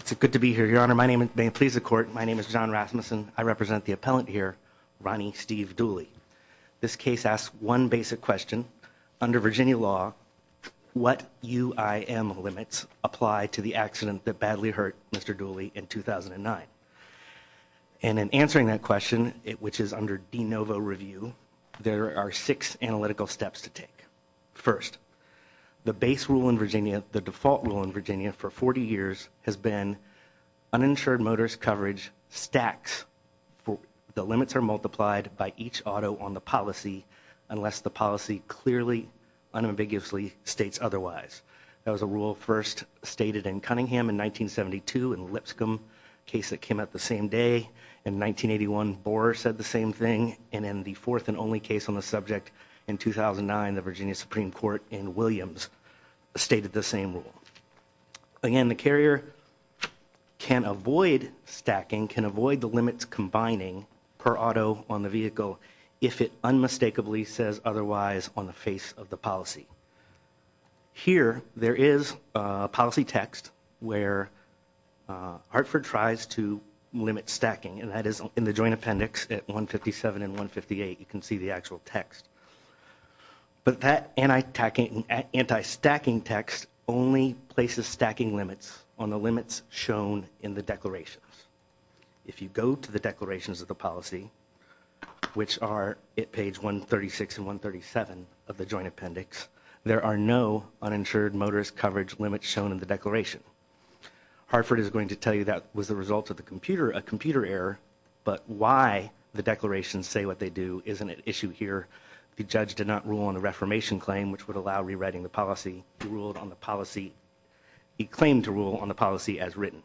It's good to be here, Your Honor. May it please the Court, my name is John Rasmussen. I represent the appellant here, Ronnie Steve Dooley. This case asks one basic question. Under Virginia law, what UIM limits apply to the accident that badly hurt Mr. Dooley in 2009? And in answering that question, which is under de novo review, there are six analytical steps to take. First, the base rule in Virginia, the default rule in Virginia for 40 years, has been uninsured motorist coverage stacks. The limits are multiplied by each auto on the policy unless the policy clearly, unambiguously states otherwise. That was a rule first stated in Cunningham in 1972 in Lipscomb, a case that came out the same day. In 1981, Borer said the same thing. And in the fourth and only case on the subject in 2009, the Virginia Supreme Court in Williams stated the same rule. Again, the carrier can avoid stacking, can avoid the limits combining per auto on the vehicle if it unmistakably says otherwise on the face of the policy. Here, there is a policy text where Hartford tries to limit stacking, and that is in the joint appendix at 157 and 158. You can see the actual text. But that anti-stacking text only places stacking limits on the limits shown in the declarations. If you go to the declarations of the policy, which are at page 136 and 137 of the joint appendix, there are no uninsured motorist coverage limits shown in the declaration. Hartford is going to tell you that was the result of a computer error, but why the declarations say what they do isn't an issue here. The judge did not rule on the reformation claim, which would allow rewriting the policy. He claimed to rule on the policy as written.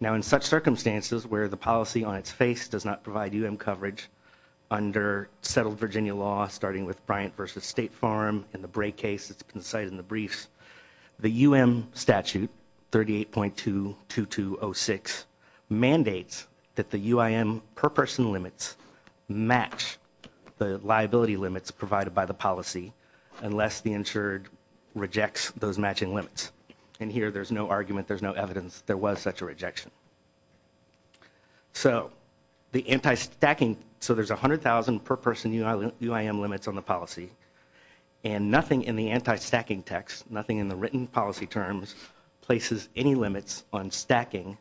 Now, in such circumstances where the policy on its face does not provide UM coverage under settled Virginia law, starting with Bryant v. State Farm, in the Bray case that's been cited in the briefs, the UM statute, 38.22206, mandates that the UIM per person limits match the liability limits provided by the policy unless the insured rejects those matching limits. And here, there's no argument, there's no evidence there was such a rejection. So, the anti-stacking, so there's 100,000 per person UIM limits on the policy, and nothing in the anti-stacking text, nothing in the written policy terms, places any limits on stacking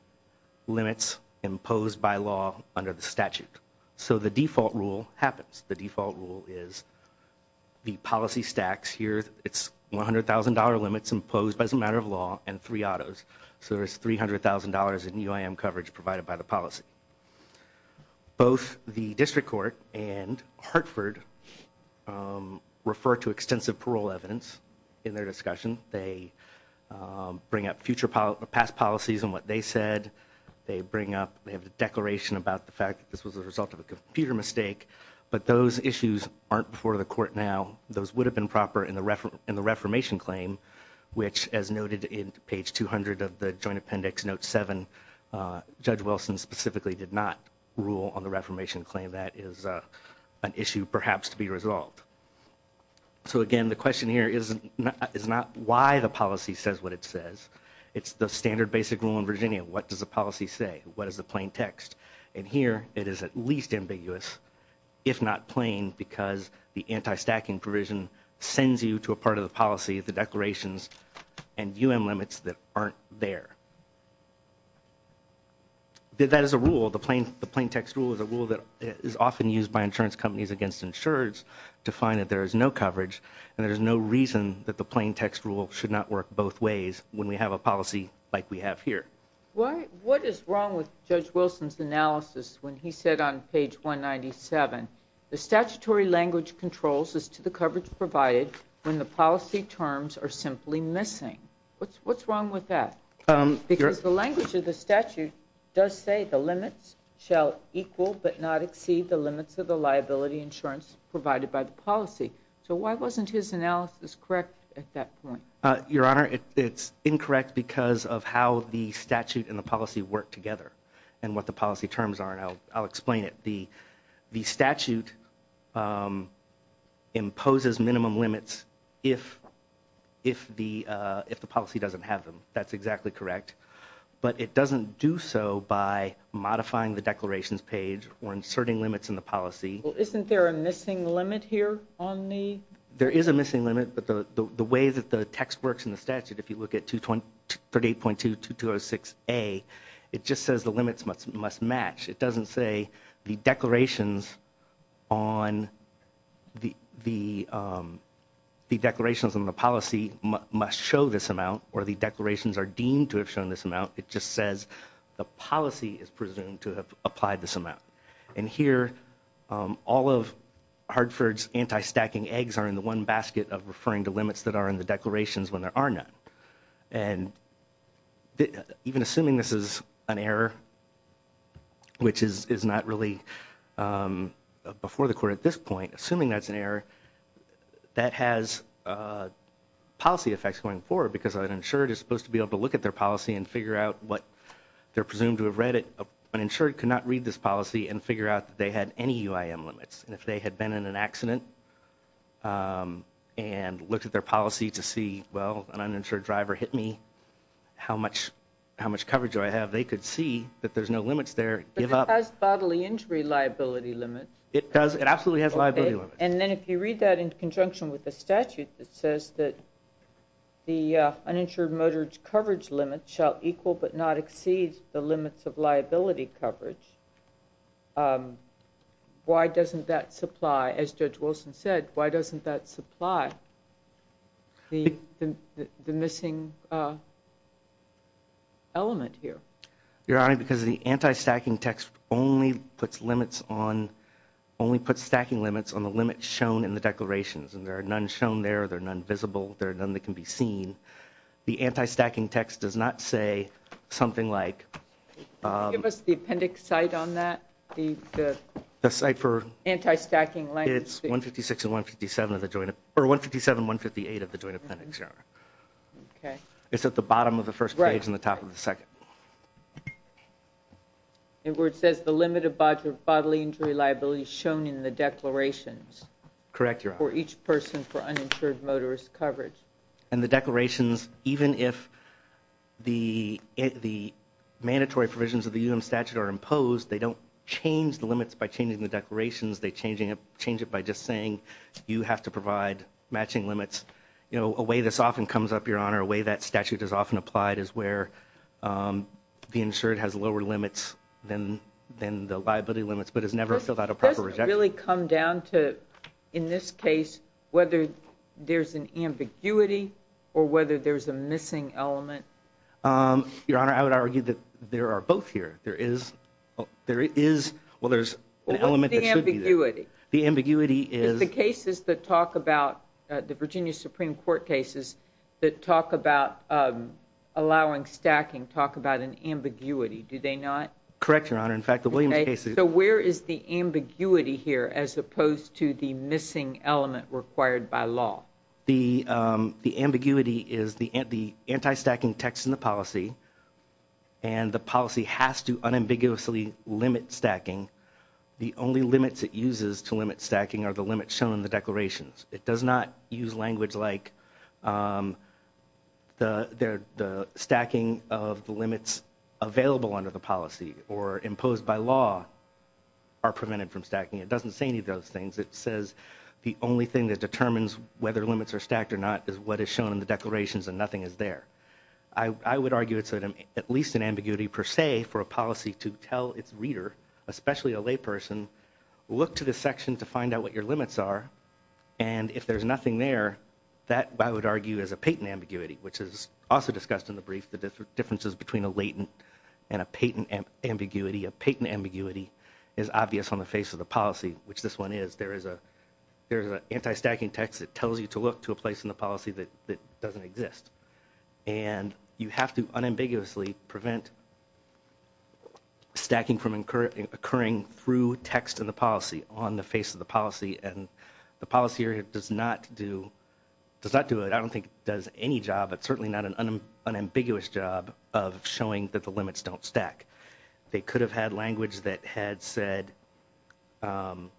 limits imposed by law under the statute. So the default rule happens. The default rule is the policy stacks here, it's $100,000 limits imposed as a matter of law, and three autos. So there's $300,000 in UIM coverage provided by the policy. Both the district court and Hartford refer to extensive parole evidence in their discussion. They bring up future past policies and what they said. They bring up, they have a declaration about the fact that this was a result of a computer mistake, but those issues aren't before the court now. Those would have been proper in the reformation claim, which as noted in page 200 of the Joint Appendix Note 7, Judge Wilson specifically did not rule on the reformation claim. That is an issue perhaps to be resolved. So again, the question here is not why the policy says what it says. It's the standard basic rule in Virginia. What does the policy say? What is the plain text? And here it is at least ambiguous, if not plain, because the anti-stacking provision sends you to a part of the policy, the declarations and UIM limits that aren't there. That is a rule, the plain text rule is a rule that is often used by insurance companies against insurers to find that there is no coverage and there is no reason that the plain text rule should not work both ways when we have a policy like we have here. What is wrong with Judge Wilson's analysis when he said on page 197, the statutory language controls as to the coverage provided when the policy terms are simply missing? What's wrong with that? Because the language of the statute does say the limits shall equal but not exceed the limits of the liability insurance provided by the policy. So why wasn't his analysis correct at that point? Your Honor, it's incorrect because of how the statute and the policy work together and what the policy terms are and I'll explain it. The statute imposes minimum limits if the policy doesn't have them. That's exactly correct. But it doesn't do so by modifying the declarations page or inserting limits in the policy. Well isn't there a missing limit here on the? There is a missing limit but the way that the text works in the statute, if you look at 238.2-2206A, it just says the limits must match. It doesn't say the declarations on the policy must show this amount or the declarations are deemed to have shown this amount. It just says the policy is presumed to have applied this amount. And here all of Hartford's anti-stacking eggs are in the one basket of referring to limits that are in the declarations when there are none. And even assuming this is an error, which is not really before the court at this point, assuming that's an error, that has policy effects going forward because an insured is supposed to be able to look at their policy and figure out what they're presumed to have read it. So an insured could not read this policy and figure out that they had any UIM limits. And if they had been in an accident and looked at their policy to see, well, an uninsured driver hit me, how much coverage do I have? They could see that there's no limits there and give up. But it has bodily injury liability limits. It does. It absolutely has liability limits. And then if you read that in conjunction with the statute that says that the uninsured motorist coverage limit shall equal but not exceed the limits of liability coverage, why doesn't that supply, as Judge Wilson said, why doesn't that supply the missing element here? Your Honor, because the anti-stacking text only puts limits on, only puts stacking limits on the limits shown in the declarations and there are none shown there, there are none visible, there are none that can be seen. The anti-stacking text does not say something like. Give us the appendix site on that. The site for. Anti-stacking language. It's 156 and 157 of the joint, or 157 and 158 of the joint appendix, Your Honor. Okay. It's at the bottom of the first page and the top of the second. Right. It says the limit of bodily injury liability shown in the declarations. Correct, Your Honor. For each person for uninsured motorist coverage. And the declarations, even if the mandatory provisions of the UN statute are imposed, they don't change the limits by changing the declarations. They change it by just saying you have to provide matching limits. You know, a way this often comes up, Your Honor, a way that statute is often applied is where the insured has lower limits than the liability limits, but has never filled out a proper rejection. It doesn't really come down to, in this case, whether there's an ambiguity or whether there's a missing element. Your Honor, I would argue that there are both here. There is. Well, there's an element that should be there. The ambiguity. The ambiguity is. The cases that talk about, the Virginia Supreme Court cases that talk about allowing stacking, talk about an ambiguity. Do they not? Correct, Your Honor. In fact, the Williams case is. So where is the ambiguity here as opposed to the missing element required by law? The ambiguity is the anti-stacking text in the policy and the policy has to unambiguously limit stacking. The only limits it uses to limit stacking are the limits shown in the declarations. It does not use language like the stacking of the limits available under the policy or imposed by law are prevented from stacking. It doesn't say any of those things. It says the only thing that determines whether limits are stacked or not is what is shown in the declarations and nothing is there. I would argue it's at least an ambiguity per se for a policy to tell its reader, especially a layperson, look to the section to find out what your limits are. And if there's nothing there, that I would argue is a patent ambiguity, which is also discussed in the brief. The differences between a latent and a patent ambiguity. A patent ambiguity is obvious on the face of the policy, which this one is. There is an anti-stacking text that tells you to look to a place in the policy that doesn't exist. And you have to unambiguously prevent stacking from occurring through text in the policy on the face of the policy. And the policy does not do it. I don't think it does any job, but certainly not an unambiguous job of showing that the limits don't stack. They could have had language that had said what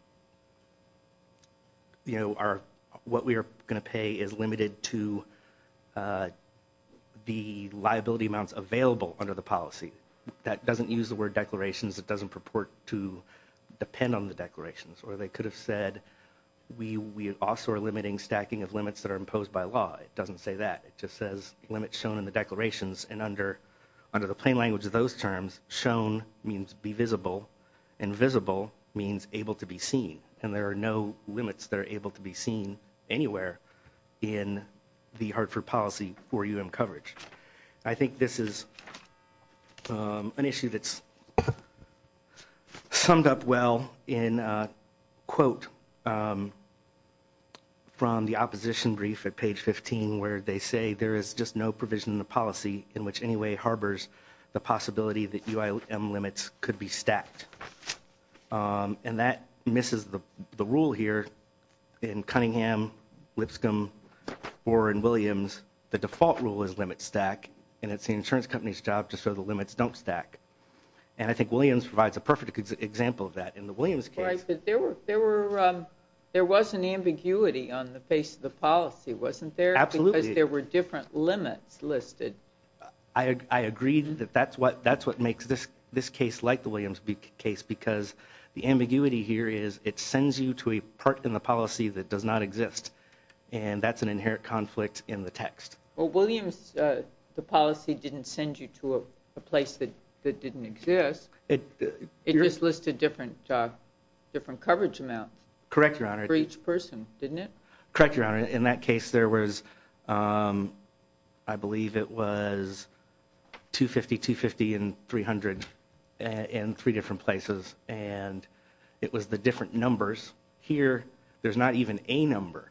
we are going to pay is limited to the liability amounts available under the policy. That doesn't use the word declarations. It doesn't purport to depend on the declarations. Or they could have said we also are limiting stacking of limits that are imposed by law. It doesn't say that. It just says limits shown in the declarations. And under the plain language of those terms, shown means be visible. And visible means able to be seen. And there are no limits that are able to be seen anywhere in the Hartford policy for UM coverage. I think this is an issue that's summed up well in a quote from the opposition brief at page 15, where they say there is just no provision in the policy in which any way harbors the possibility that UIM limits could be stacked. And that misses the rule here in Cunningham, Lipscomb or in Williams. The default rule is limit stack. And it's the insurance company's job to show the limits don't stack. And I think Williams provides a perfect example of that in the Williams case. There was an ambiguity on the face of the policy, wasn't there? Absolutely. Because there were different limits listed. I agree that that's what makes this case like the Williams case, because the ambiguity here is it sends you to a part in the policy that does not exist. And that's an inherent conflict in the text. Well, Williams, the policy didn't send you to a place that didn't exist. It just listed different coverage amounts. Correct, Your Honor. For each person, didn't it? Correct, Your Honor. In that case, there was, I believe it was 250, 250, and 300 in three different places. And it was the different numbers. Here, there's not even a number,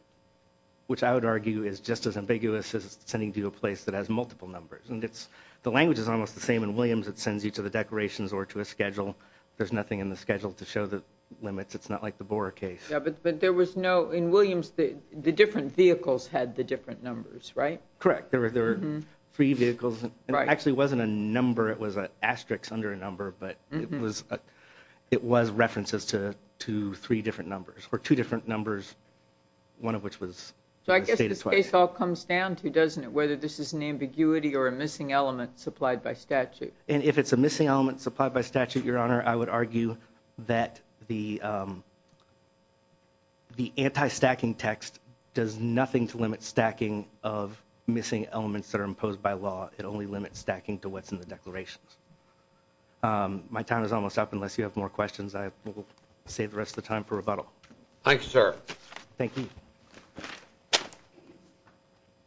which I would argue is just as ambiguous as sending you to a place that has multiple numbers. And the language is almost the same in Williams. It sends you to the declarations or to a schedule. There's nothing in the schedule to show the limits. It's not like the Bora case. But there was no, in Williams, the different vehicles had the different numbers, right? Correct. There were three vehicles. It actually wasn't a number. It was an asterisk under a number, but it was references to three different numbers, or two different numbers, one of which was stated twice. So I guess this case all comes down to, doesn't it, whether this is an ambiguity or a missing element supplied by statute. And if it's a missing element supplied by statute, Your Honor, I would argue that the anti-stacking text does nothing to limit stacking of missing elements that are imposed by law. It only limits stacking to what's in the declarations. My time is almost up. Unless you have more questions, I will save the rest of the time for rebuttal. Thank you, sir. Thank you.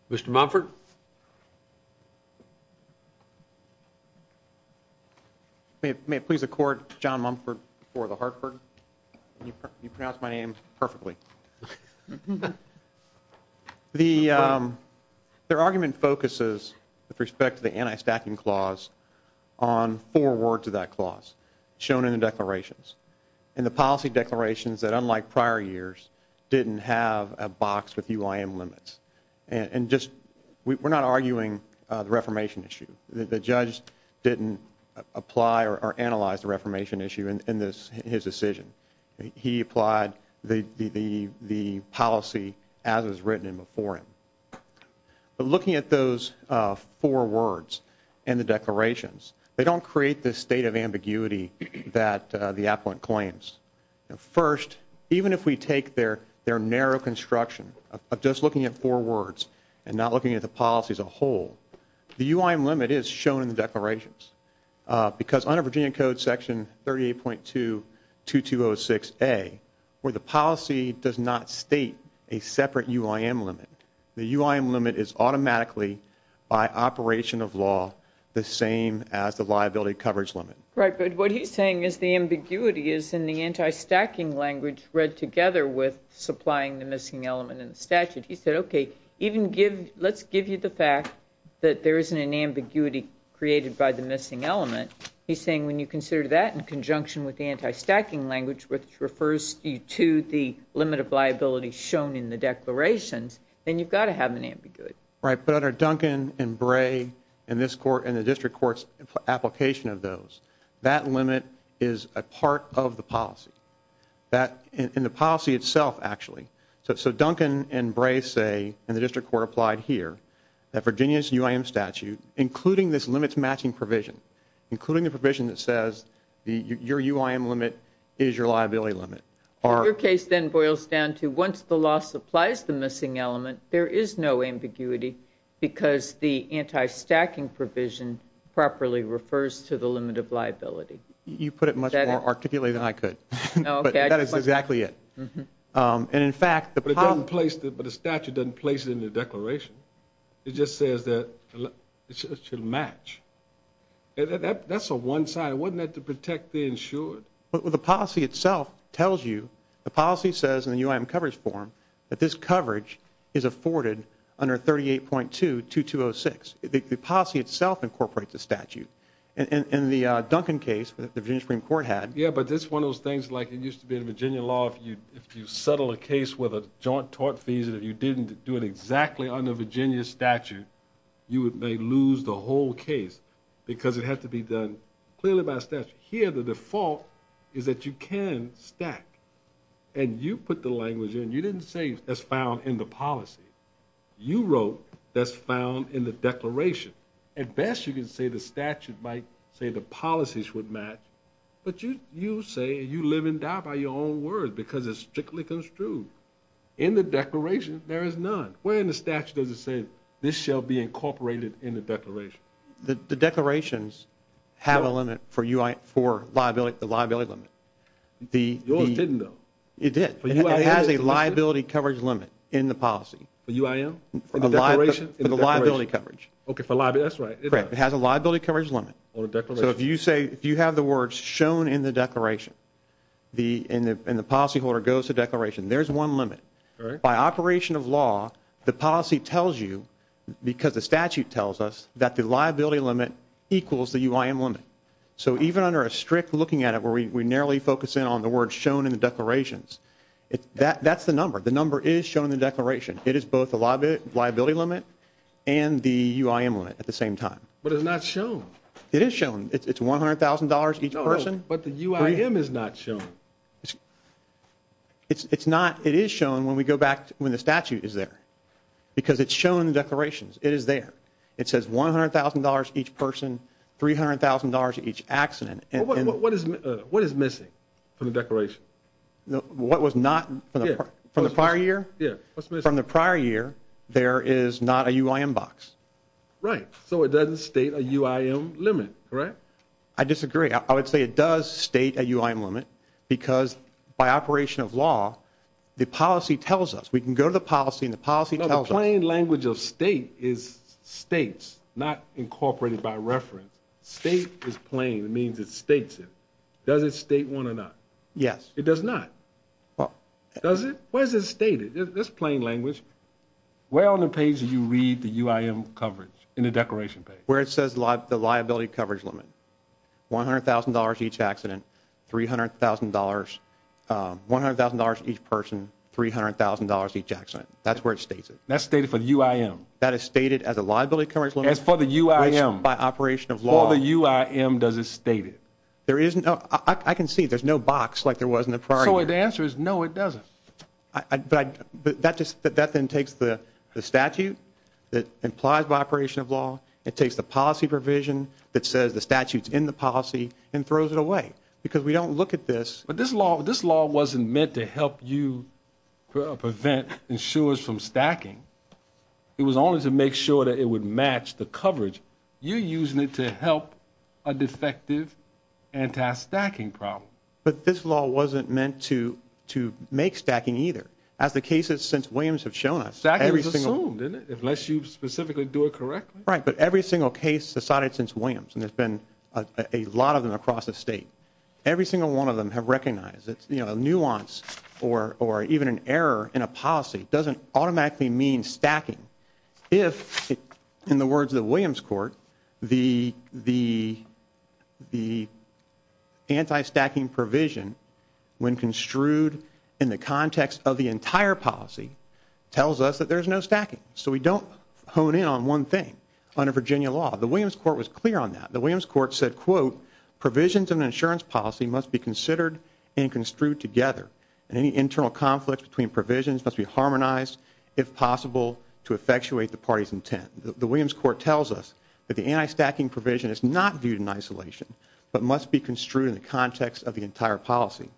Mr. Mumford? May it please the Court, John Mumford for the Hartford. You pronounced my name perfectly. The argument focuses, with respect to the anti-stacking clause, on four words of that clause shown in the declarations. In the policy declarations that, unlike prior years, didn't have a box with UIM limits. And just, we're not arguing the reformation issue. The judge didn't apply or analyze the reformation issue in his decision. He applied the policy as it was written before him. But looking at those four words in the declarations, they don't create this state of ambiguity that the appellant claims. First, even if we take their narrow construction of just looking at four words and not looking at the policy as a whole, the UIM limit is shown in the declarations. Because under Virginia Code Section 38.2-2206A, where the policy does not state a separate UIM limit, the UIM limit is automatically, by operation of law, the same as the liability coverage limit. Right, but what he's saying is the ambiguity is in the anti-stacking language read together with supplying the missing element in the statute. He said, okay, even give, let's give you the fact that there isn't an ambiguity created by the missing element. He's saying when you consider that in conjunction with the anti-stacking language, which refers to the limit of liability shown in the declarations, then you've got to have an ambiguity. Right, but under Duncan and Bray and this court and the district court's application of those, that limit is a part of the policy. In the policy itself, actually. So Duncan and Bray say, and the district court applied here, that Virginia's UIM statute, including this limits matching provision, including the provision that says your UIM limit is your liability limit. Your case then boils down to once the law supplies the missing element, there is no ambiguity because the anti-stacking provision properly refers to the limit of liability. You put it much more articulately than I could, but that is exactly it. But the statute doesn't place it in the declaration. It just says that it should match. That's a one-sided, wasn't that to protect the insured? The policy itself tells you, the policy says in the UIM coverage form, that this coverage is afforded under 38.2-2206. The policy itself incorporates the statute. In the Duncan case that the Virginia Supreme Court had. Yeah, but it's one of those things like it used to be in Virginia law, if you settle a case with a joint tort fees and you didn't do it exactly under Virginia statute, you may lose the whole case because it had to be done clearly by statute. Here the default is that you can stack. And you put the language in. You didn't say that's found in the policy. You wrote that's found in the declaration. At best you can say the statute might say the policies would match, but you say you live and die by your own words because it's strictly construed. In the declaration there is none. Where in the statute does it say this shall be incorporated in the declaration? The declarations have a limit for the liability limit. Yours didn't though. It did. It has a liability coverage limit in the policy. For UIM? For the liability coverage. Okay, for liability. That's right. Correct. It has a liability coverage limit. So if you have the words shown in the declaration and the policy holder goes to declaration, there's one limit. By operation of law the policy tells you because the statute tells us that the liability limit equals the UIM limit. So even under a strict looking at it where we narrowly focus in on the words shown in the declarations, that's the number. The number is shown in the declaration. It is both the liability limit and the UIM limit at the same time. But it's not shown. It is shown. It's $100,000 each person. But the UIM is not shown. It's not. It is shown when we go back when the statute is there because it's shown in the declarations. It is there. It says $100,000 each person, $300,000 each accident. What is missing from the declaration? What was not from the prior year? From the prior year there is not a UIM box. Right. So it doesn't state a UIM limit, correct? I disagree. I would say it does state a UIM limit because by operation of law the policy tells us. We can go to the policy and the policy tells us. The plain language of state is states, not incorporated by reference. State is plain. It means it states it. Does it state one or not? Yes. It does not. Does it? No. Where is it stated? It's plain language. Where on the page do you read the UIM coverage in the declaration page? Where it says the liability coverage limit. $100,000 each accident, $300,000. $100,000 each person, $300,000 each accident. That's where it states it. That's stated for the UIM. That is stated as a liability coverage limit. As for the UIM. By operation of law. I can see it. There's no box like there was in the prior year. So the answer is no, it doesn't. But that then takes the statute that implies by operation of law. It takes the policy provision that says the statute's in the policy and throws it away. Because we don't look at this. But this law wasn't meant to help you prevent insurers from stacking. It was only to make sure that it would match the coverage. You're using it to help a defective anti-stacking problem. But this law wasn't meant to make stacking either. As the cases since Williams have shown us. Stacking was assumed, unless you specifically do it correctly. Right, but every single case decided since Williams. And there's been a lot of them across the state. Every single one of them have recognized. A nuance or even an error in a policy doesn't automatically mean stacking. If, in the words of the Williams Court. The anti-stacking provision when construed in the context of the entire policy. Tells us that there's no stacking. So we don't hone in on one thing. Under Virginia law. The Williams Court was clear on that. The Williams Court said quote. Provisions in an insurance policy must be considered and construed together. And any internal conflict between provisions must be harmonized. If possible to effectuate the party's intent. The Williams Court tells us. That the anti-stacking provision is not viewed in isolation. But must be construed in the context of the entire policy.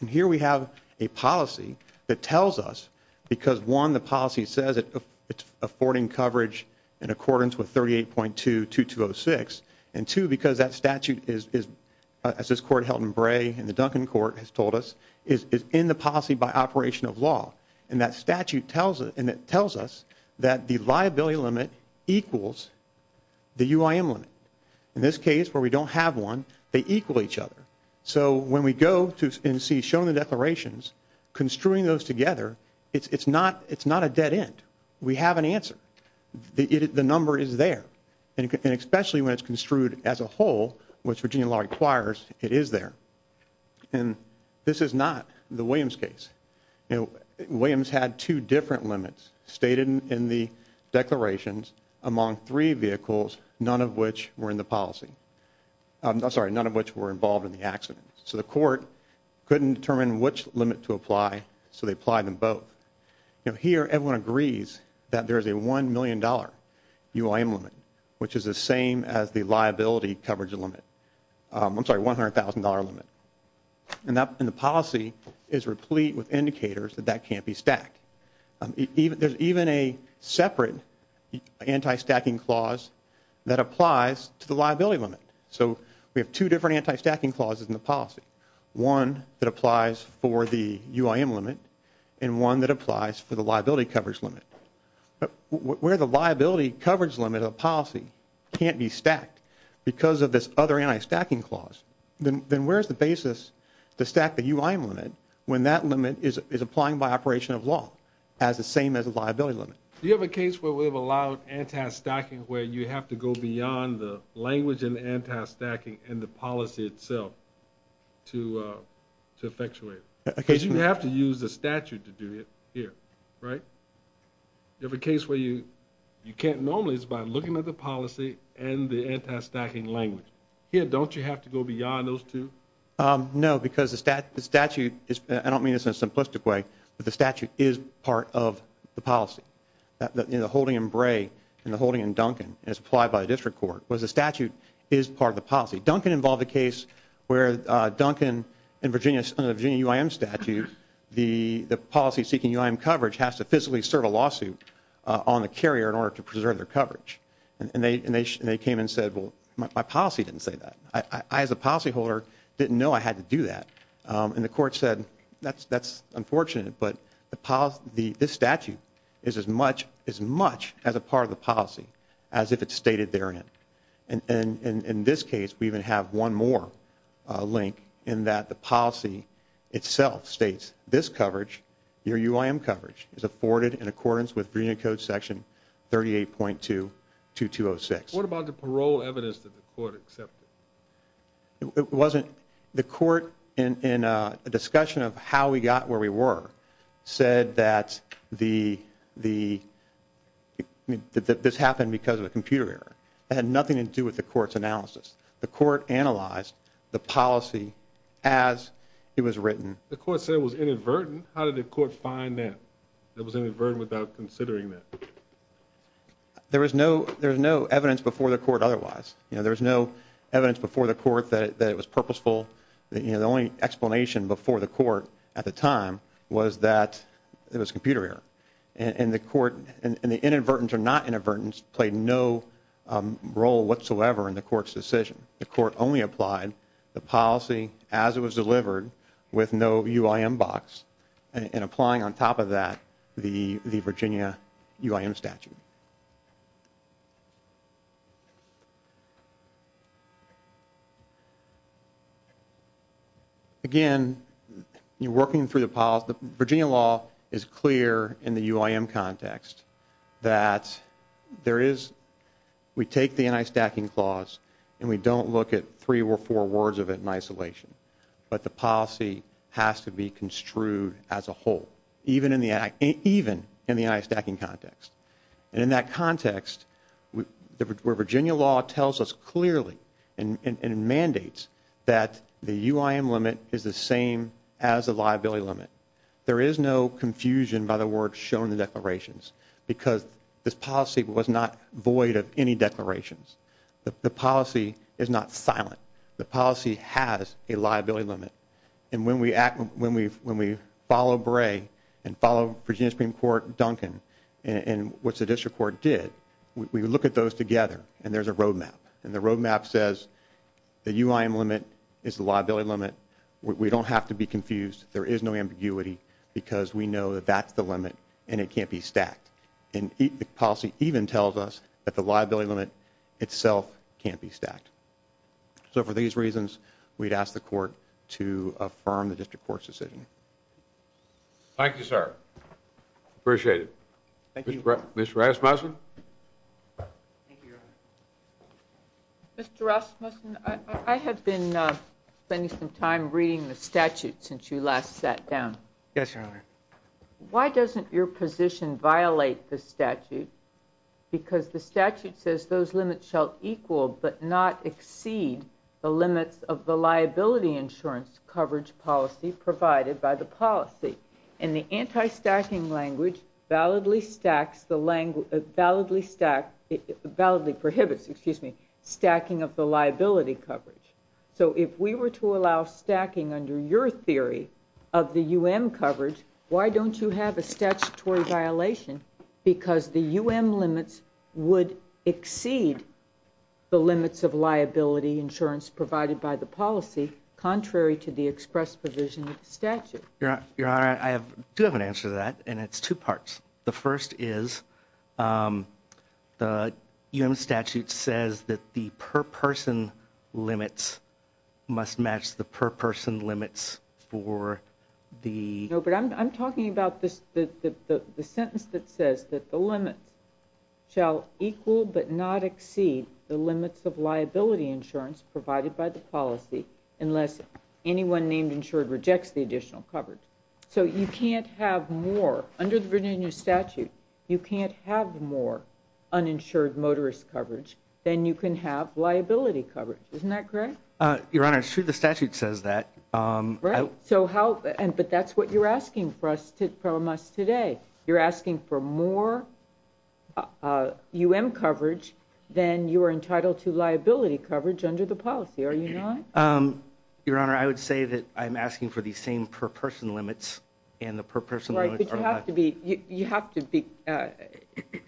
And here we have a policy. That tells us. Because one the policy says it's affording coverage. In accordance with 38.22206. And two because that statute is. As this court held in Bray. And the Duncan Court has told us. Is in the policy by operation of law. And that statute tells us. And it tells us. That the liability limit equals the UIM limit. In this case where we don't have one. They equal each other. So when we go to and see shown the declarations. Construing those together. It's not a dead end. We have an answer. The number is there. And especially when it's construed as a whole. Which Virginia law requires. It is there. And this is not the Williams case. Williams had two different limits. Stated in the declarations. Among three vehicles. None of which were in the policy. I'm sorry. None of which were involved in the accident. So the court. Couldn't determine which limit to apply. So they applied them both. Here everyone agrees. That there is a one million dollar. UIM limit. Which is the same as the liability coverage limit. I'm sorry. One hundred thousand dollar limit. And the policy is replete with indicators. That that can't be stacked. There's even a separate anti-stacking clause. That applies to the liability limit. So we have two different anti-stacking clauses in the policy. One that applies for the UIM limit. And one that applies for the liability coverage limit. Where the liability coverage limit of the policy. Can't be stacked. Because of this other anti-stacking clause. Then where's the basis. To stack the UIM limit. When that limit is applying by operation of law. As the same as the liability limit. Do you have a case where we have allowed anti-stacking. Where you have to go beyond the language and anti-stacking. And the policy itself. To effectuate. Because you have to use the statute to do it. Here. Right. Do you have a case where you. You can't normally. By looking at the policy. And the anti-stacking language. Here. Don't you have to go beyond those two. No. Because the statute. I don't mean this in a simplistic way. But the statute is part of the policy. The holding in Bray. And the holding in Duncan. And it's applied by the district court. But the statute is part of the policy. Duncan involved a case. Where Duncan. In Virginia. Under the Virginia UIM statute. The policy seeking UIM coverage. Has to physically serve a lawsuit. On the carrier. In order to preserve their coverage. And they came and said. My policy didn't say that. I as a policy holder. Didn't know I had to do that. And the court said. That's unfortunate. But this statute. Is as much. As much. As a part of the policy. As if it's stated therein. And in this case. We even have one more. Link. In that the policy. Itself states. This coverage. Your UIM coverage. Is afforded in accordance. With Virginia code section. 38.2. 2206. What about the parole evidence. That the court accepted. It wasn't. The court. In a discussion. Of how we got where we were. Said that. The. The. That this happened. Because of a computer error. That had nothing to do. With the court's analysis. The court analyzed. The policy. As. It was written. The court said it was inadvertent. How did the court find that. That was inadvertent. Without considering that. There was no. There's no evidence. Before the court. Otherwise. You know. There's no evidence. Before the court. That it was purposeful. You know. The only explanation. Before the court. At the time. Was that. It was computer error. And the court. And the inadvertent. Or not inadvertent. Played no. Role whatsoever. In the court's decision. The court only applied. The policy. As it was delivered. With no UIM box. And applying on top of that. The Virginia. UIM statute. Again. You're working through the policy. The Virginia law. Is clear. In the UIM context. That. There is. We take the anti-stacking clause. And we don't look at. As a. As a. As a. As a. As a. As a. As a. As a. As a. As a. As a. As a. As a. As a. As a. As a. As. A. As a. A. As a. Unquote. Unquote. Unquote. Unquote. Let's be clear. We we. We the. Natural result. Of a proximity. Violence. And and we. A unknown entity. Unquote. Unquote. A re s. In unquote. Unquote. A low. In unquote. A low. In unquote. A low. In unquote. Unquote. Thank you, sir. Appreciate it. Mr. Rasmussen. Thank you, Your Honor. Mr. Rasmussen, I have been spending some time reading the statute since you last sat down. Yes, Your Honor. Why doesn't your position violate the statute? Because the statute says those limits shall equal but not exceed the limits of the liability insurance coverage policy provided by the policy. And the anti-stacking language validly stacks the language, validly stack, validly prohibits, excuse me, stacking of the liability coverage. So if we were to allow stacking under your theory of the U.M. coverage, why don't you have a statutory violation? Because the U.M. limits would exceed the limits of liability insurance provided by the policy, contrary to the express provision of the statute. Your Honor, I do have an answer to that, and it's two parts. The first is the U.M. statute says that the per-person limits must match the per-person limits for the... So you can't have more, under the Virginia statute, you can't have more uninsured motorist coverage than you can have liability coverage. Isn't that correct? Your Honor, it's true the statute says that. Right, but that's what you're asking from us today. You're asking for more U.M. coverage than you are entitled to liability coverage under the policy, are you not? Your Honor, I would say that I'm asking for the same per-person limits, and the per-person limits are... Right, but you have to be,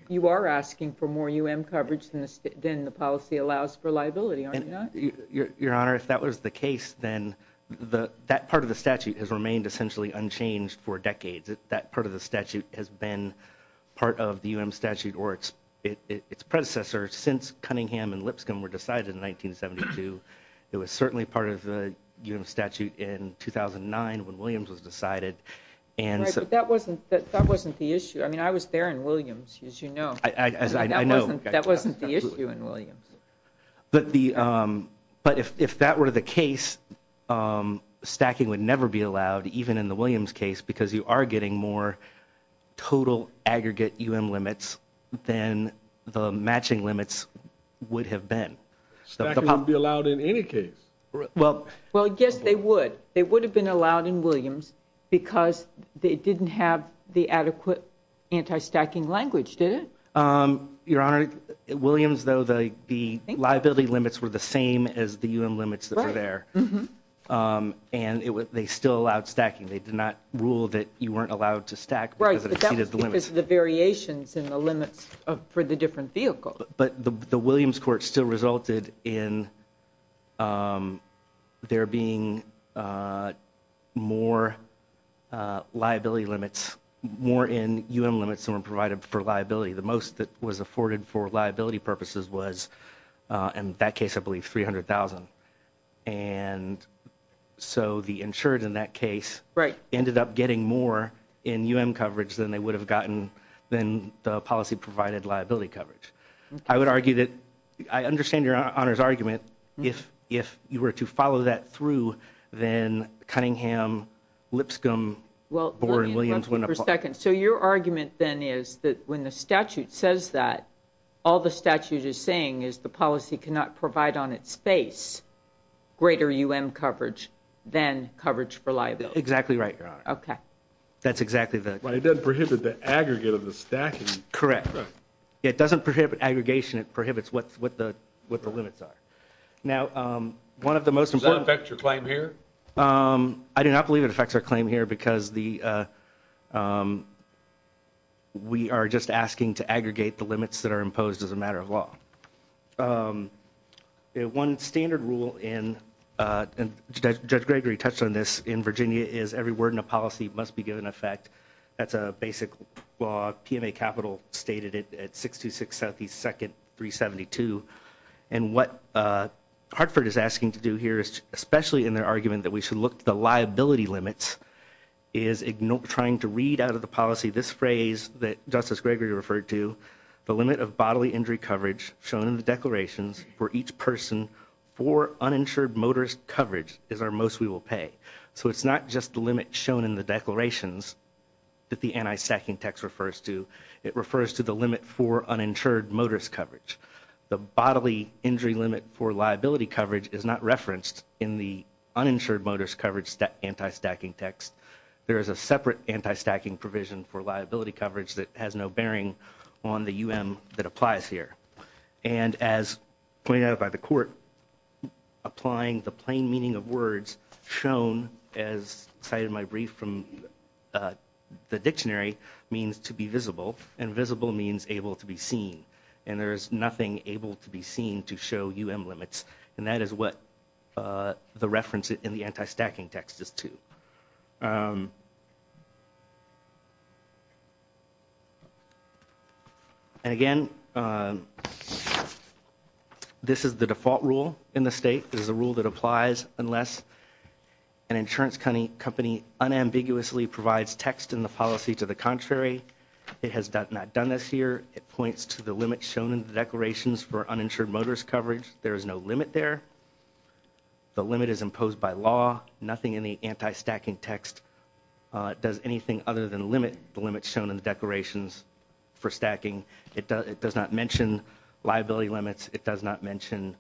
you are asking for more U.M. coverage than the policy allows for liability, are you not? Your Honor, if that was the case, then that part of the statute has remained essentially unchanged for decades. That part of the statute has been part of the U.M. statute or its predecessor since Cunningham and Lipscomb were decided in 1972. It was certainly part of the U.M. statute in 2009 when Williams was decided. Right, but that wasn't the issue. I mean, I was there in Williams, as you know. As I know. That wasn't the issue in Williams. But if that were the case, stacking would never be allowed, even in the Williams case, because you are getting more total aggregate U.M. limits than the matching limits would have been. Stacking wouldn't be allowed in any case. Well, I guess they would. They would have been allowed in Williams because they didn't have the adequate anti-stacking language, did it? Your Honor, in Williams, though, the liability limits were the same as the U.M. limits that were there. And they still allowed stacking. They did not rule that you weren't allowed to stack because it exceeded the limits. Right, but that was because of the variations in the limits for the different vehicles. But the Williams court still resulted in there being more liability limits, more in U.M. limits than were provided for liability. The most that was afforded for liability purposes was, in that case, I believe, $300,000. And so the insured, in that case, ended up getting more in U.M. coverage than they would have gotten in the policy-provided liability coverage. I would argue that I understand Your Honor's argument. If you were to follow that through, then Cunningham, Lipscomb, Board, and Williams wouldn't apply. Just a second. So your argument, then, is that when the statute says that, all the statute is saying is the policy cannot provide on its face greater U.M. coverage than coverage for liability. Exactly right, Your Honor. Okay. That's exactly the... But it doesn't prohibit the aggregate of the stacking. Correct. Right. It doesn't prohibit aggregation. It prohibits what the limits are. Now, one of the most important... Does that affect your claim here? I do not believe it affects our claim here because we are just asking to aggregate the limits that are imposed as a matter of law. One standard rule, and Judge Gregory touched on this in Virginia, is every word in a policy must be given effect. That's a basic law. PMA Capital stated it at 626 Southeast 2nd, 372. And what Hartford is asking to do here, especially in their argument that we should look to the liability limits, is trying to read out of the policy this phrase that Justice Gregory referred to, the limit of bodily injury coverage shown in the declarations for each person for uninsured motorist coverage is our most we will pay. So it's not just the limit shown in the declarations that the anti-stacking text refers to. It refers to the limit for uninsured motorist coverage. The bodily injury limit for liability coverage is not referenced in the uninsured motorist coverage anti-stacking text. There is a separate anti-stacking provision for liability coverage that has no bearing on the UM that applies here. And as pointed out by the court, applying the plain meaning of words shown as cited in my brief from the dictionary means to be visible. And visible means able to be seen. And there is nothing able to be seen to show UM limits. And that is what the reference in the anti-stacking text is to. And again, this is the default rule in the state. This is a rule that applies unless an insurance company unambiguously provides text in the policy to the contrary. It has not done this here. It points to the limit shown in the declarations for uninsured motorist coverage. There is no limit there. The limit is imposed by law. Nothing in the anti-stacking text does anything other than limit the limits shown in the declarations for stacking. It does not mention liability limits. It does not mention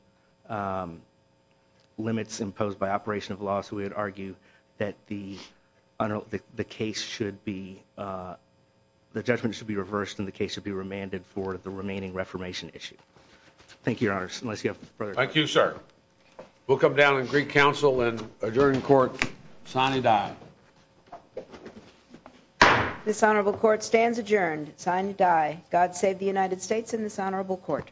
limits imposed by operation of law. So we would argue that the case should be the judgment should be reversed and the case should be remanded for the remaining reformation issue. Thank you, sir. We'll come down in Greek council and adjourn in court. Sine die. This honorable court stands adjourned. Sine die. God save the United States and this honorable court.